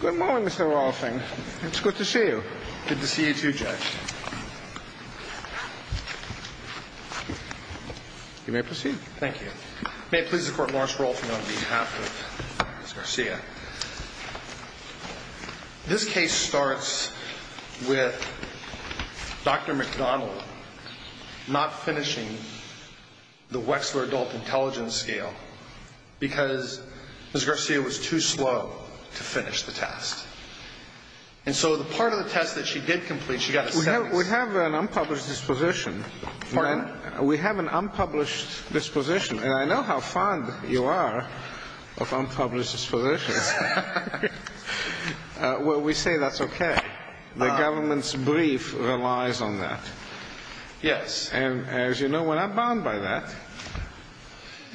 Good morning, Mr. Rolfing. It's good to see you. Good to see you too, Judge. You may proceed. Thank you. May it please the Court, Morris Rolfing on behalf of Ms. Garcia. This case starts with Dr. McDonald not finishing the Wechsler Adult Intelligence Scale because Ms. Garcia was too slow to finish the test. And so the part of the test that she did complete, she got a seven. We have an unpublished disposition. Pardon? We have an unpublished disposition. And I know how fond you are of unpublished dispositions. Well, we say that's okay. The government's brief relies on that. Yes. And as you know, we're not bound by that.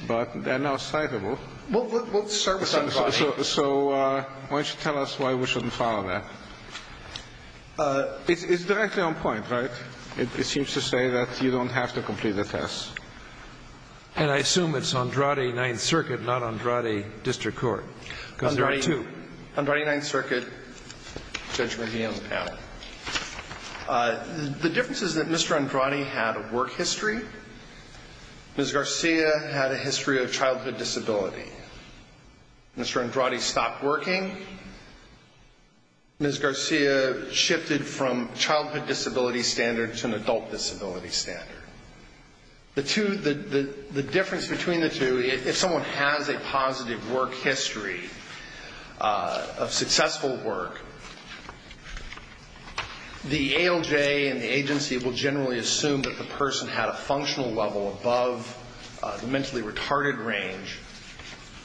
But they're not citable. We'll service Andrade. So why don't you tell us why we shouldn't follow that? It's directly on point, right? It seems to say that you don't have to complete the test. And I assume it's Andrade, Ninth Circuit, not Andrade District Court. Andrade, Ninth Circuit, Judge McNeil's panel. The difference is that Mr. Andrade had a work history. Ms. Garcia had a history of childhood disability. Mr. Andrade stopped working. Ms. Garcia shifted from childhood disability standard to an adult disability standard. The difference between the two, if someone has a positive work history of successful work, the ALJ and the agency will generally assume that the person had a functional level above the mentally retarded range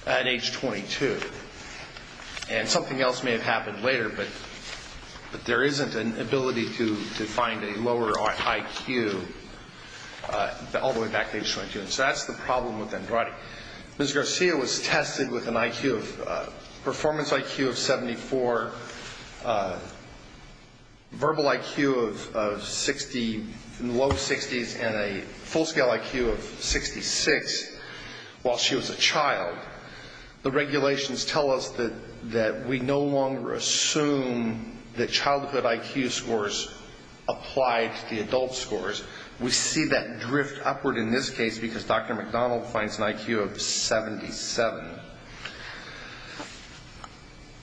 at age 22. And something else may have happened later, but there isn't an ability to find a lower IQ all the way back to age 22. And so that's the problem with Andrade. Ms. Garcia was tested with an IQ of performance IQ of 74, verbal IQ of 60, low 60s, and a full-scale IQ of 66 while she was a child. The regulations tell us that we no longer assume that childhood IQ scores apply to the adult scores. We see that drift upward in this case because Dr. McDonald finds an IQ of 77,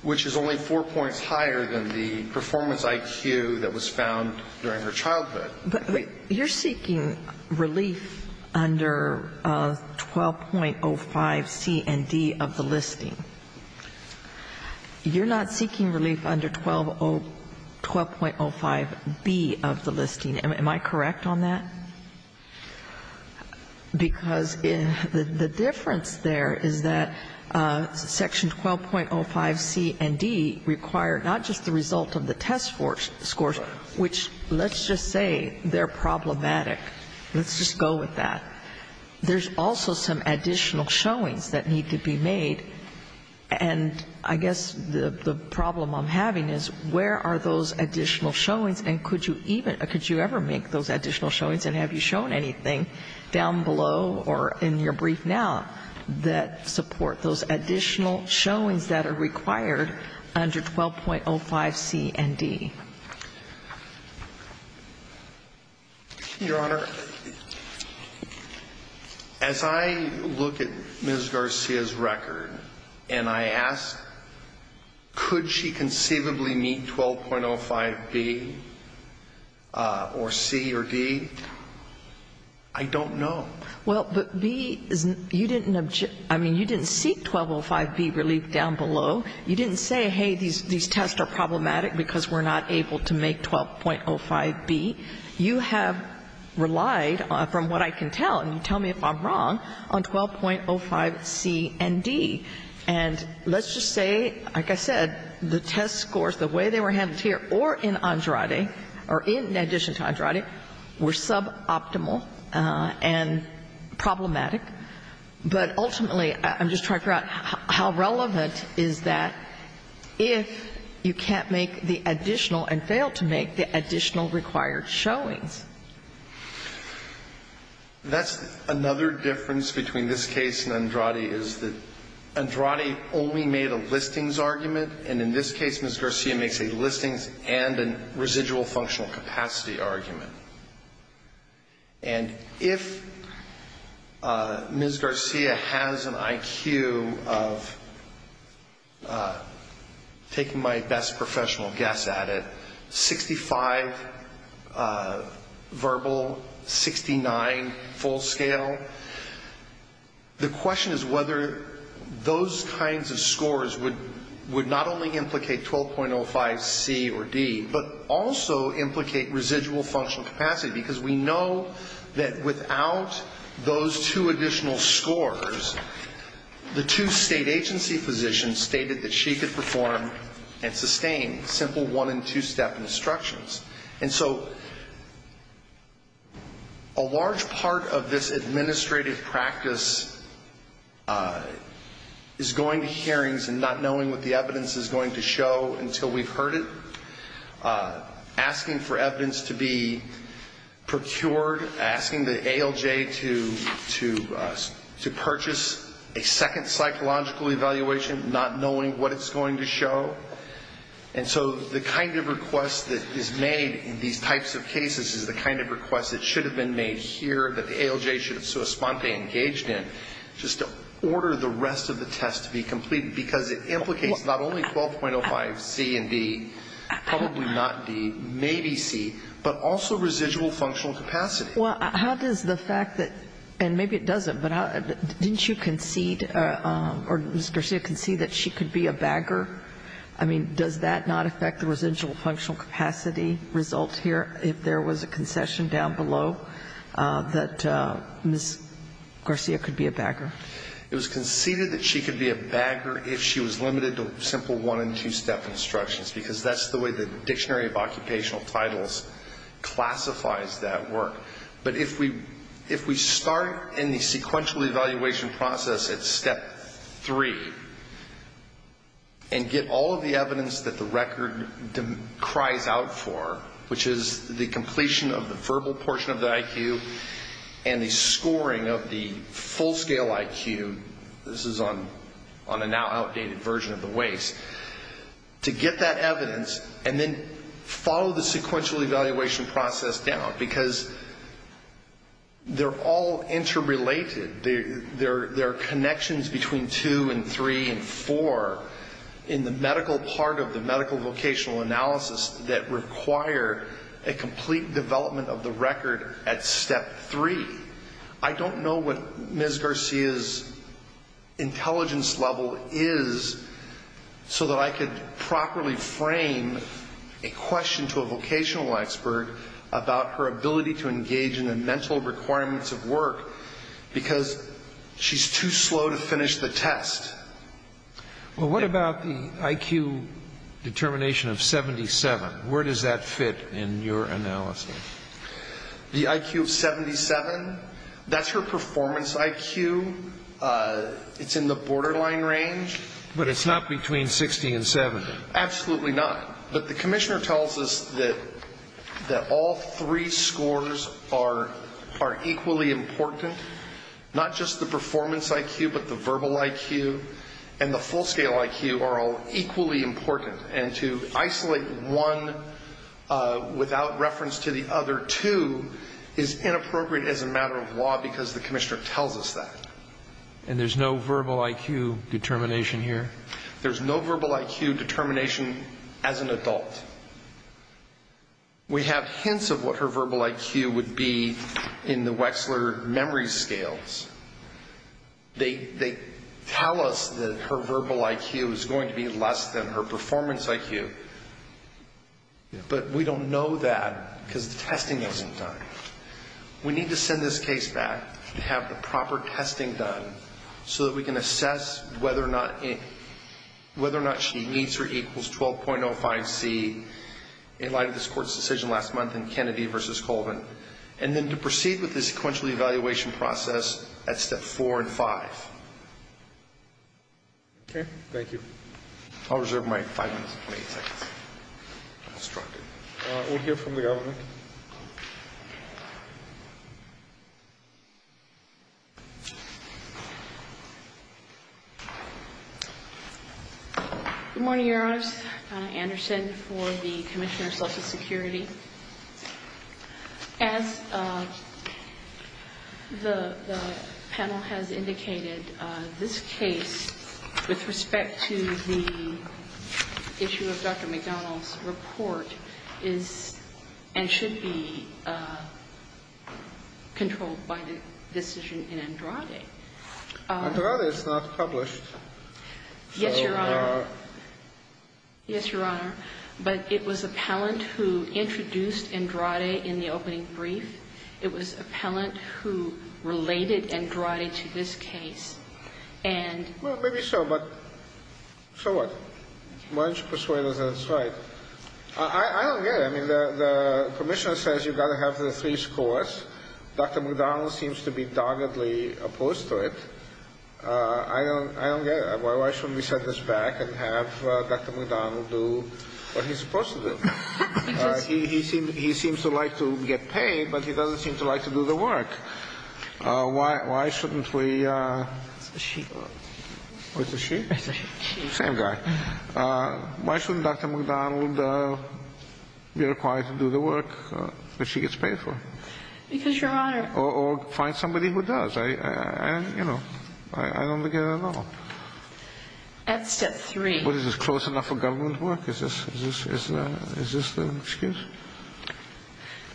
which is only four points higher than the performance IQ that was found during her childhood. But you're seeking relief under 12.05C and D of the listing. You're not seeking relief under 12.05B of the listing. Am I correct on that? Because the difference there is that Section 12.05C and D require not just the result of the test scores, which let's just say they're problematic. Let's just go with that. There's also some additional showings that need to be made. And I guess the problem I'm having is where are those additional showings, and could you ever make those additional showings, and have you shown anything down below or in your brief now that support those additional showings that are required under 12.05C and D? Your Honor, as I look at Ms. Garcia's record and I ask could she conceivably meet 12.05B or C or D, I don't know. Well, you didn't seek 12.05B relief down below. You didn't say, hey, these tests are problematic because we're not able to make 12.05B. You have relied, from what I can tell, and you tell me if I'm wrong, on 12.05C and D. And let's just say, like I said, the test scores, the way they were handled here or in Andrade, or in addition to Andrade, were suboptimal and problematic. But ultimately, I'm just trying to figure out how relevant is that if you can't make the additional and fail to make the additional required showings. That's another difference between this case and Andrade is that Andrade only made a listings argument. And in this case, Ms. Garcia makes a listings and a residual functional capacity argument. And if Ms. Garcia has an IQ of, taking my best professional guess at it, 65 verbal, 69 full scale, the question is whether those kinds of scores would not only implicate 12.05C or D, but also implicate residual functional capacity, because we know that without those two additional scores, the two State agency physicians stated that she could perform and sustain simple one and two-step instructions. And so a large part of this administrative practice is going to hearings and not knowing what the evidence is going to show until we've heard it, asking for evidence to be procured, asking the ALJ to purchase a second psychological evaluation, not knowing what it's going to show. And so the kind of request that is made in these types of cases is the kind of request that should have been made here that the ALJ should have so espontaneously engaged in just to order the rest of the test to be completed, because it implicates not only 12.05C and D, probably not D, maybe C, but also residual functional capacity. Well, how does the fact that, and maybe it doesn't, but didn't you concede, or Ms. Garcia conceded that she could be a bagger? I mean, does that not affect the residual functional capacity result here, if there was a concession down below, that Ms. Garcia could be a bagger? It was conceded that she could be a bagger if she was limited to simple one and two-step instructions, because that's the way the Dictionary of Occupational Titles classifies that work. But if we start in the sequential evaluation process at step three and get all of the evidence that the record cries out for, which is the completion of the verbal portion of the IQ and the scoring of the full-scale IQ, this is on a now outdated version of the WACE, to get that evidence and then follow the sequential evaluation process down, because they're all interrelated. There are connections between two and three and four in the medical part of the medical vocational analysis that require a complete development of the record at step three. I don't know what Ms. Garcia's intelligence level is, so that I could properly frame a question to a vocational expert about her ability to engage in the mental requirements of work, because she's too slow to finish the test. Well, what about the IQ determination of 77? Where does that fit in your analysis? The IQ of 77, that's her performance IQ. It's in the borderline range. But it's not between 60 and 70. Absolutely not. But the commissioner tells us that all three scores are equally important, not just the performance IQ, but the verbal IQ and the full-scale IQ are all equally important. And to isolate one without reference to the other two is inappropriate as a matter of law because the commissioner tells us that. And there's no verbal IQ determination here? There's no verbal IQ determination as an adult. We have hints of what her verbal IQ would be in the Wexler memory scales. They tell us that her verbal IQ is going to be less than her performance IQ, but we don't know that because the testing isn't done. We need to send this case back and have the proper testing done so that we can assess whether or not she needs her equals 12.05C in light of this court's decision last month in Kennedy v. Colvin. And then to proceed with the sequential evaluation process at step four and five. Okay. Thank you. I'll reserve my five minutes and 20 seconds. We'll hear from the government. Good morning, Your Honors. Anna Anderson for the Commissioner of Social Security. As the panel has indicated, this case with respect to the issue of Dr. McDonald's report is and should be controlled by the decision in Andrade. Andrade is not published. Yes, Your Honor. Yes, Your Honor. But it was appellant who introduced Andrade in the opening brief. It was appellant who related Andrade to this case. Well, maybe so, but so what? Why don't you persuade us that it's right? I don't get it. I mean, the Commissioner says you've got to have the three scores. Dr. McDonald seems to be doggedly opposed to it. I don't get it. Why shouldn't we set this back and have Dr. McDonald do what he's supposed to do? He seems to like to get paid, but he doesn't seem to like to do the work. Why shouldn't we? It's a she. What's a she? It's a she. Same guy. Why shouldn't Dr. McDonald be required to do the work that she gets paid for? Because, Your Honor. Or find somebody who does. I don't get it at all. At step three. But is this close enough for government to work? Is this the excuse?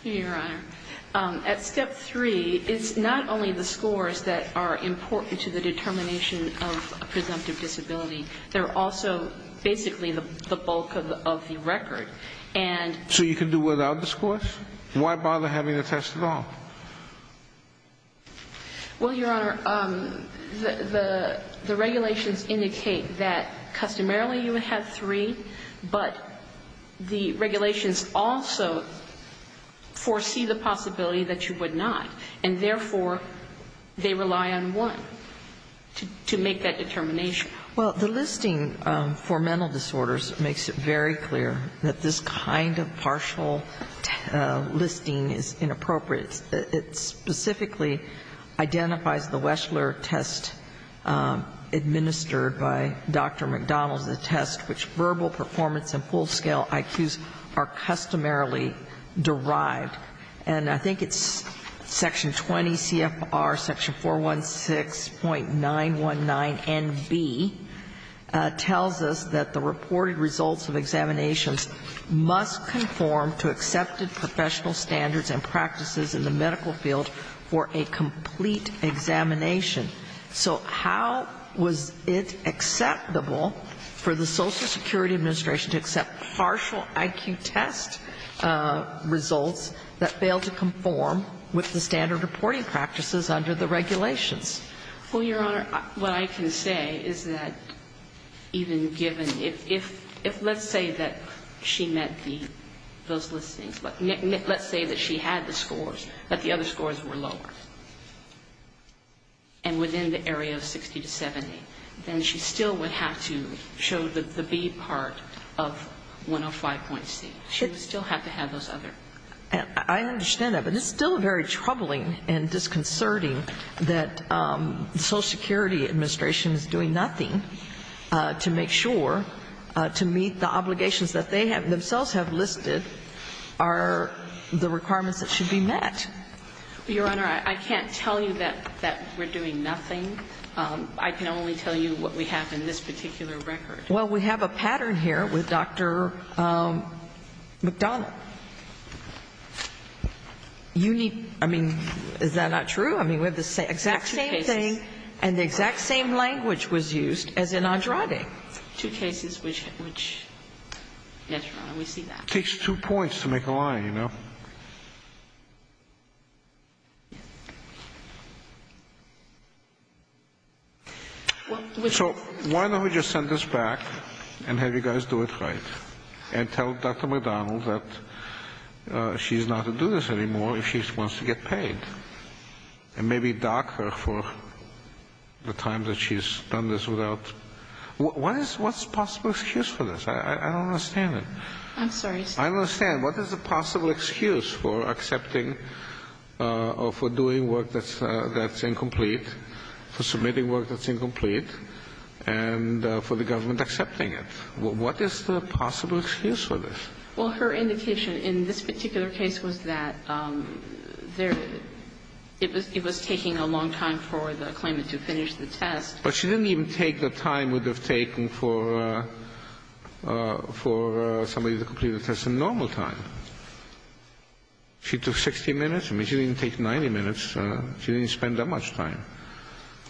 Your Honor, at step three, it's not only the scores that are important to the determination of a presumptive disability. They're also basically the bulk of the record. So you can do without the scores? Why bother having a test at all? Well, Your Honor, the regulations indicate that customarily you would have three, but the regulations also foresee the possibility that you would not. And therefore, they rely on one to make that determination. Well, the listing for mental disorders makes it very clear that this kind of partial listing is inappropriate. It specifically identifies the Weschler test administered by Dr. McDonald, the test which verbal performance and full-scale IQs are customarily derived. And I think it's section 20 CFR section 416.919NB tells us that the reported results of examinations must conform to accepted professional standards and practices in the medical field for a complete examination. So how was it acceptable for the Social Security Administration to accept partial IQ test results that failed to conform with the standard reporting practices under the regulations? Well, Your Honor, what I can say is that even given, if let's say that she met the, those listings, let's say that she had the scores, but the other scores were lower, and within the area of 60 to 70, then she still would have to show the B part of 105.C. She would still have to have those other. And I understand that. But it's still very troubling and disconcerting that the Social Security Administration is doing nothing to make sure to meet the obligations that they themselves have listed are the requirements that should be met. Your Honor, I can't tell you that we're doing nothing. I can only tell you what we have in this particular record. Well, we have a pattern here with Dr. McDonald. You need, I mean, is that not true? I mean, we have the exact same thing and the exact same language was used as in Andrade. Two cases which, yes, Your Honor, we see that. It takes two points to make a line, you know. So why don't we just send this back and have you guys do it right, and tell Dr. McDonald that she's not to do this anymore if she wants to get paid, and maybe dock her for the time that she's done this without. What is the possible excuse for this? I don't understand it. I'm sorry. I don't understand. What is the possible excuse for this? What is the possible excuse for accepting or for doing work that's incomplete, for submitting work that's incomplete, and for the government accepting it? What is the possible excuse for this? Well, her indication in this particular case was that it was taking a long time for the claimant to finish the test. But she didn't even take the time it would have taken for somebody to complete the test in normal time. She took 60 minutes. I mean, she didn't take 90 minutes. She didn't spend that much time.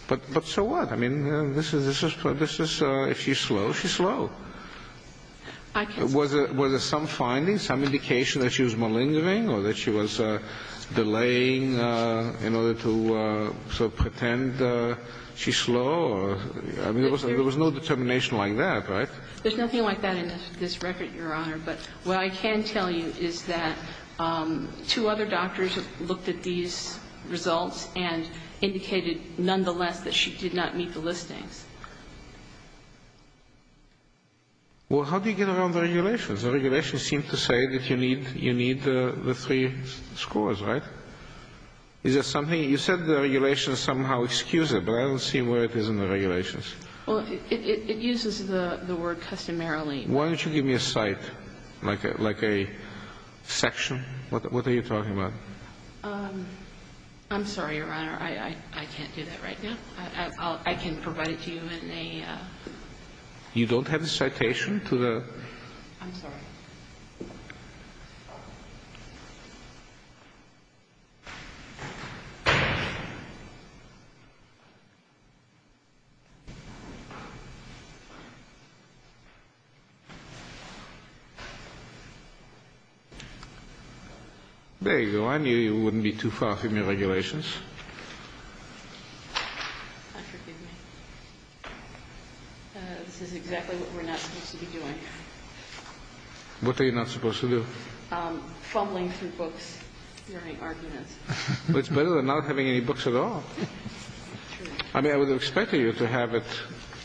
But so what? I mean, if she's slow, she's slow. Were there some findings, some indication that she was malingering or that she was delaying in order to sort of pretend she's slow? I mean, there was no determination like that, right? There's nothing like that in this record, Your Honor. But what I can tell you is that two other doctors have looked at these results and indicated nonetheless that she did not meet the listings. Well, how do you get around the regulations? The regulations seem to say that you need the three scores, right? Is there something? You said the regulations somehow excuse it. But I don't see where it is in the regulations. Well, it uses the word customarily. Why don't you give me a cite, like a section? What are you talking about? I'm sorry, Your Honor. I can't do that right now. I can provide it to you in a... You don't have a citation to the... I'm sorry. There you go. I knew you wouldn't be too far from your regulations. This is exactly what we're not supposed to be doing. What are you not supposed to do? Fumbling through books. There are no arguments. Well, it's better than not having any books at all. But you don't. I don't have any books at all. I mean, you could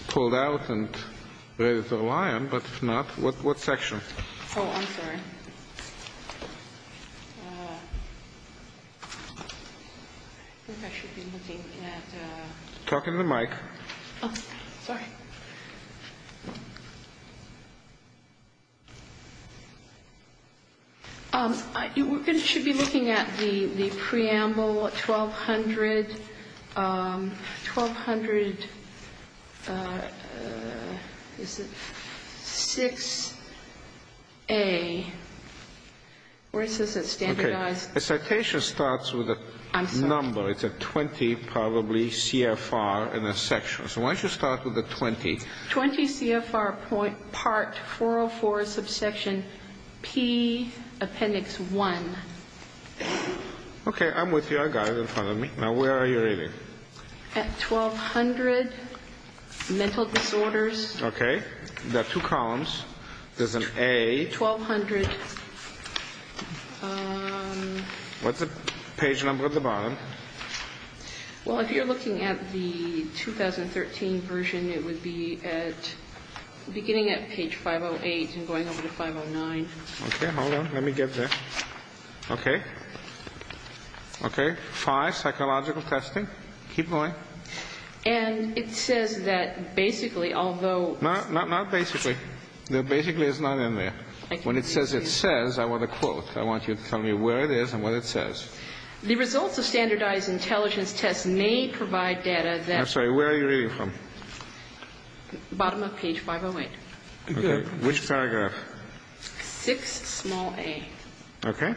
pull it out and read it all I am, but not... What section? Oh, I'm sorry. I think I should be looking at... Talk into the mic. Oh, sorry. You should be looking at the preamble 1200... 1200... Is it? 6A. Where it says it's standardized. Okay. A citation starts with a number. I'm sorry. It's a 20, probably, CFR in a section. So why don't you start with a 20? 20 CFR Part 404, Subsection P, Appendix 1. Okay. I'm with you. I got it in front of me. Now, where are you reading? At 1200, Mental Disorders. Okay. There are two columns. There's an A. 1200. What's the page number at the bottom? Well, if you're looking at the 2013 version, it would be beginning at page 508 and going over to 509. Okay. Hold on. Let me get there. Okay. Okay. Five, Psychological Testing. Keep going. And it says that basically, although... No, not basically. The basically is not in there. When it says it says, I want a quote. I want you to tell me where it is and what it says. The results of standardized intelligence tests may provide data that... I'm sorry. Where are you reading from? Bottom of page 508. Okay. Which paragraph? Six, small A. Okay.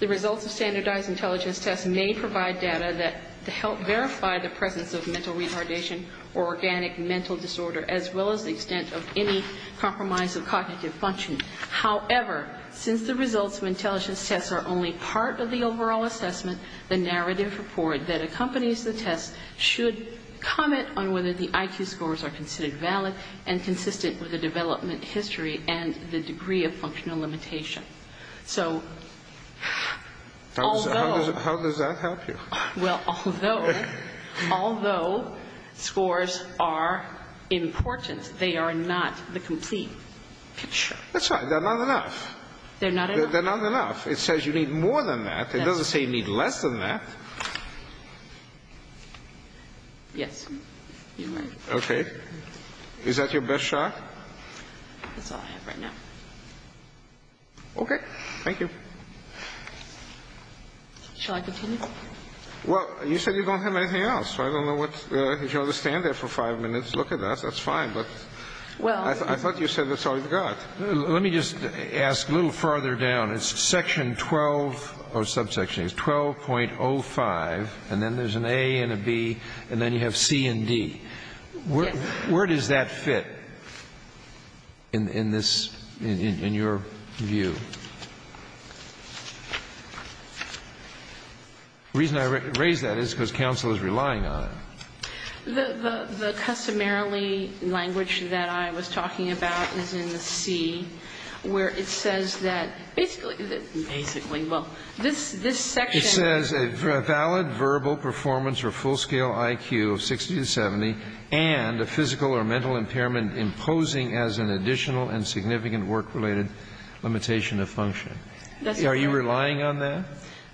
The results of standardized intelligence tests may provide data that help verify the presence of mental retardation or organic mental disorder, as well as the extent of any compromise of cognitive function. However, since the results of intelligence tests are only part of the overall assessment, the narrative report that accompanies the test should comment on whether the IQ scores are considered valid and consistent with the development history and the degree of functional limitation. So, although... How does that help you? Well, although... Okay. Although scores are important, they are not the complete picture. That's right. They're not enough. They're not enough? They're not enough. It says you need more than that. It doesn't say you need less than that. Yes. You're right. Okay. Is that your best shot? That's all I have right now. Okay. Thank you. Shall I continue? Well, you said you don't have anything else, so I don't know what... If you want to stand there for five minutes, look at that. That's fine, but... Well. I thought you said that's all you've got. Let me just ask a little farther down. It's section 12 or subsection. It's 12.05, and then there's an A and a B, and then you have C and D. Yes. Where does that fit in this, in your view? The reason I raise that is because counsel is relying on it. The customarily language that I was talking about is in the C, where it says that basically... Basically. Well, this section... It says a valid verbal performance or full-scale IQ of 60 to 70 and a physical or mental impairment imposing as an additional and significant work-related limitation of function. That's correct. Are you relying on that?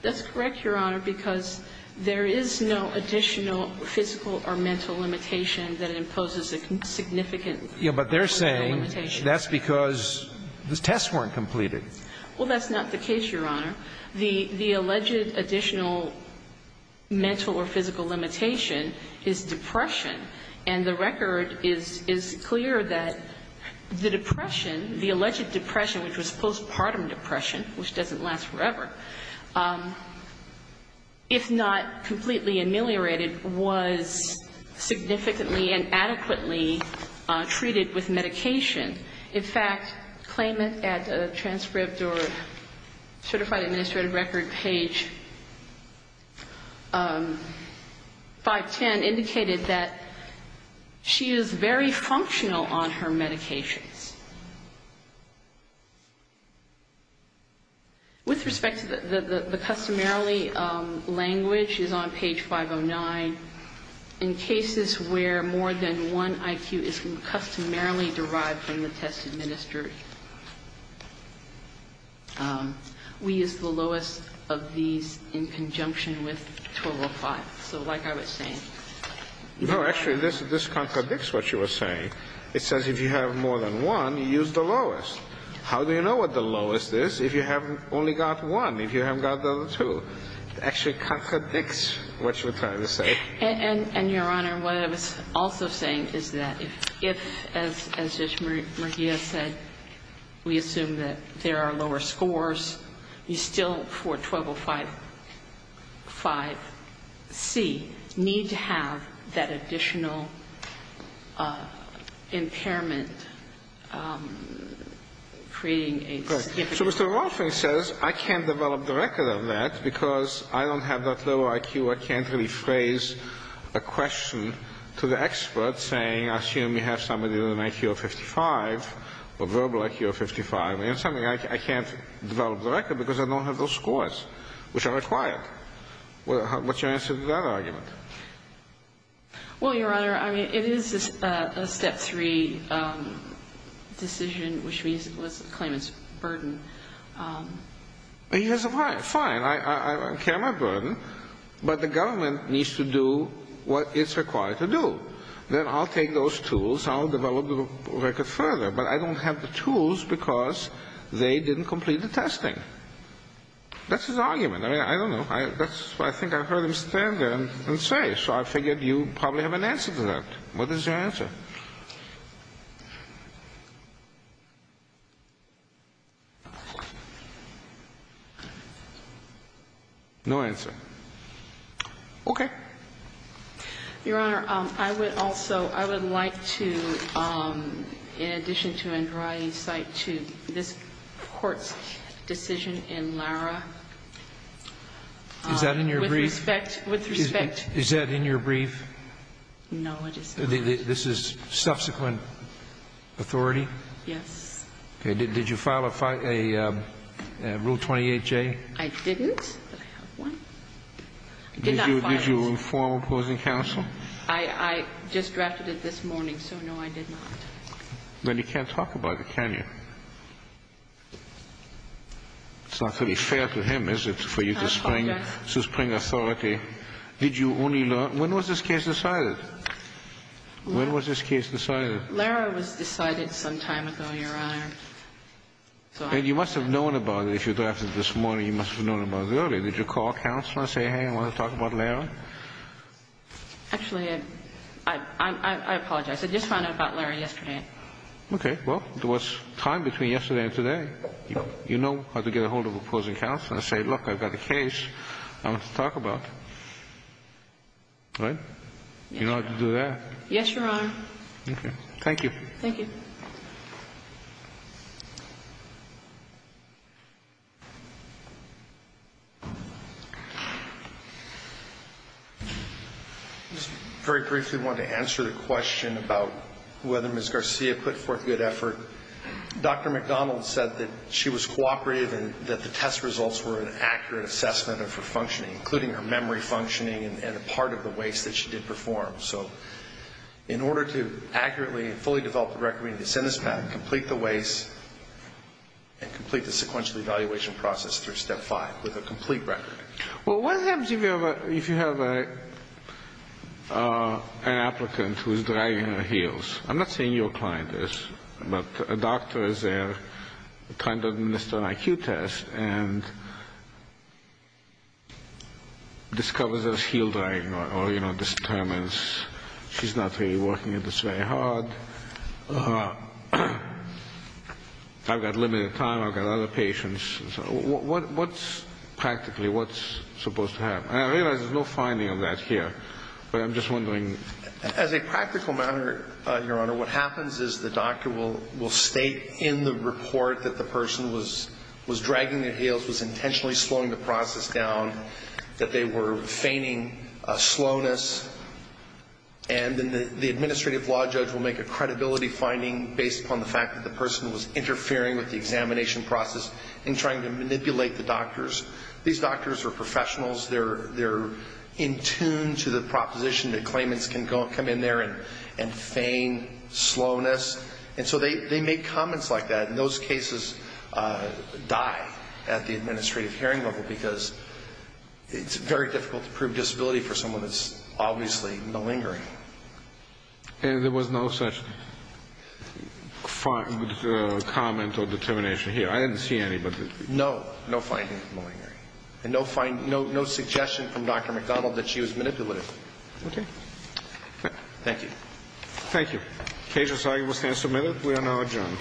That's correct, Your Honor, because there is no additional physical or mental limitation that imposes a significant work-related limitation. Yes, but they're saying that's because the tests weren't completed. Well, that's not the case, Your Honor. The alleged additional mental or physical limitation is depression, and the record is clear that the depression, the alleged depression, which was postpartum depression, which doesn't last forever, if not completely ameliorated, was significantly and adequately treated with medication. In fact, claimant at a transcript or certified administrative record, page 510, indicated that she is very functional on her medications. With respect to the customarily language is on page 509. In cases where more than one IQ is customarily derived from the test administered, we use the lowest of these in conjunction with 1205. So like I was saying. No, actually, this contradicts what you were saying. It says if you have more than one, you use the lowest. How do you know what the lowest is if you have only got one, if you haven't got the other two? It actually contradicts what you were trying to say. And, Your Honor, what I was also saying is that if, as Judge Murguia said, we assume that there are lower scores, you still, for 1205C, need to have that additional impairment, creating a significant issue. Right. So Mr. Rolfing says I can't develop the record of that because I don't have that low IQ. I can't really phrase a question to the expert saying, assume you have somebody with an IQ of 55 or verbal IQ of 55. I can't develop the record because I don't have those scores, which are required. What's your answer to that argument? Well, Your Honor, I mean, it is a Step 3 decision, which means it was a claimant's burden. He has a right. Fine. I can't have a burden, but the government needs to do what it's required to do. Then I'll take those tools. I'll develop the record further. But I don't have the tools because they didn't complete the testing. That's his argument. I mean, I don't know. I think I heard him stand there and say, so I figured you probably have an answer to that. What is your answer? No answer. Okay. Your Honor, I would also like to, in addition to Andrade, cite to this court's decision in Lara. Is that in your brief? With respect. Is that in your brief? No, it is not. This is subsequent authority? Yes. Okay. Did you file a Rule 28J? I didn't, but I have one. Did you inform opposing counsel? I just drafted it this morning, so no, I did not. Then you can't talk about it, can you? It's not really fair to him, is it, for you to spring authority? Did you only learn? When was this case decided? When was this case decided? Lara was decided some time ago, Your Honor. And you must have known about it if you drafted it this morning. You must have known about it earlier. Did you call counsel and say, hey, I want to talk about Lara? Actually, I apologize. I just found out about Lara yesterday. Okay. Well, there was time between yesterday and today. You know how to get a hold of opposing counsel and say, look, I've got a case I want to talk about. Right? You know how to do that. Yes, Your Honor. Okay. Thank you. Thank you. I just very briefly wanted to answer the question about whether Ms. Garcia put forth good effort. Dr. McDonald said that she was cooperative and that the test results were an accurate assessment of her functioning, including her memory functioning and a part of the weights that she did perform. So in order to accurately and fully develop the recognition in this pattern, complete the weights, and complete the sequential evaluation process through step five with a complete record. Well, what happens if you have an applicant who is dragging her heels? I'm not saying your client is, but a doctor is there trying to administer an IQ test and discovers there's heel dragging or, you know, determines she's not really working at this very hard. I've got limited time. I've got other patients. So what's practically what's supposed to happen? And I realize there's no finding of that here, but I'm just wondering. As a practical matter, Your Honor, what happens is the doctor will state in the report that the person was dragging their heels, was intentionally slowing the process down, that they were feigning slowness, and then the administrative law judge will make a credibility finding based upon the fact that the person was interfering with the examination process and trying to manipulate the doctors. These doctors are professionals. They're in tune to the proposition that claimants can come in there and feign slowness. And so they make comments like that, and those cases die at the administrative hearing level because it's very difficult to prove disability for someone that's obviously malingering. And there was no such comment or determination here? I didn't see any. No. No finding of malingering. And no suggestion from Dr. McDonald that she was manipulative. Okay. Thank you. Thank you. Cases, I will stand submitted. We are now adjourned.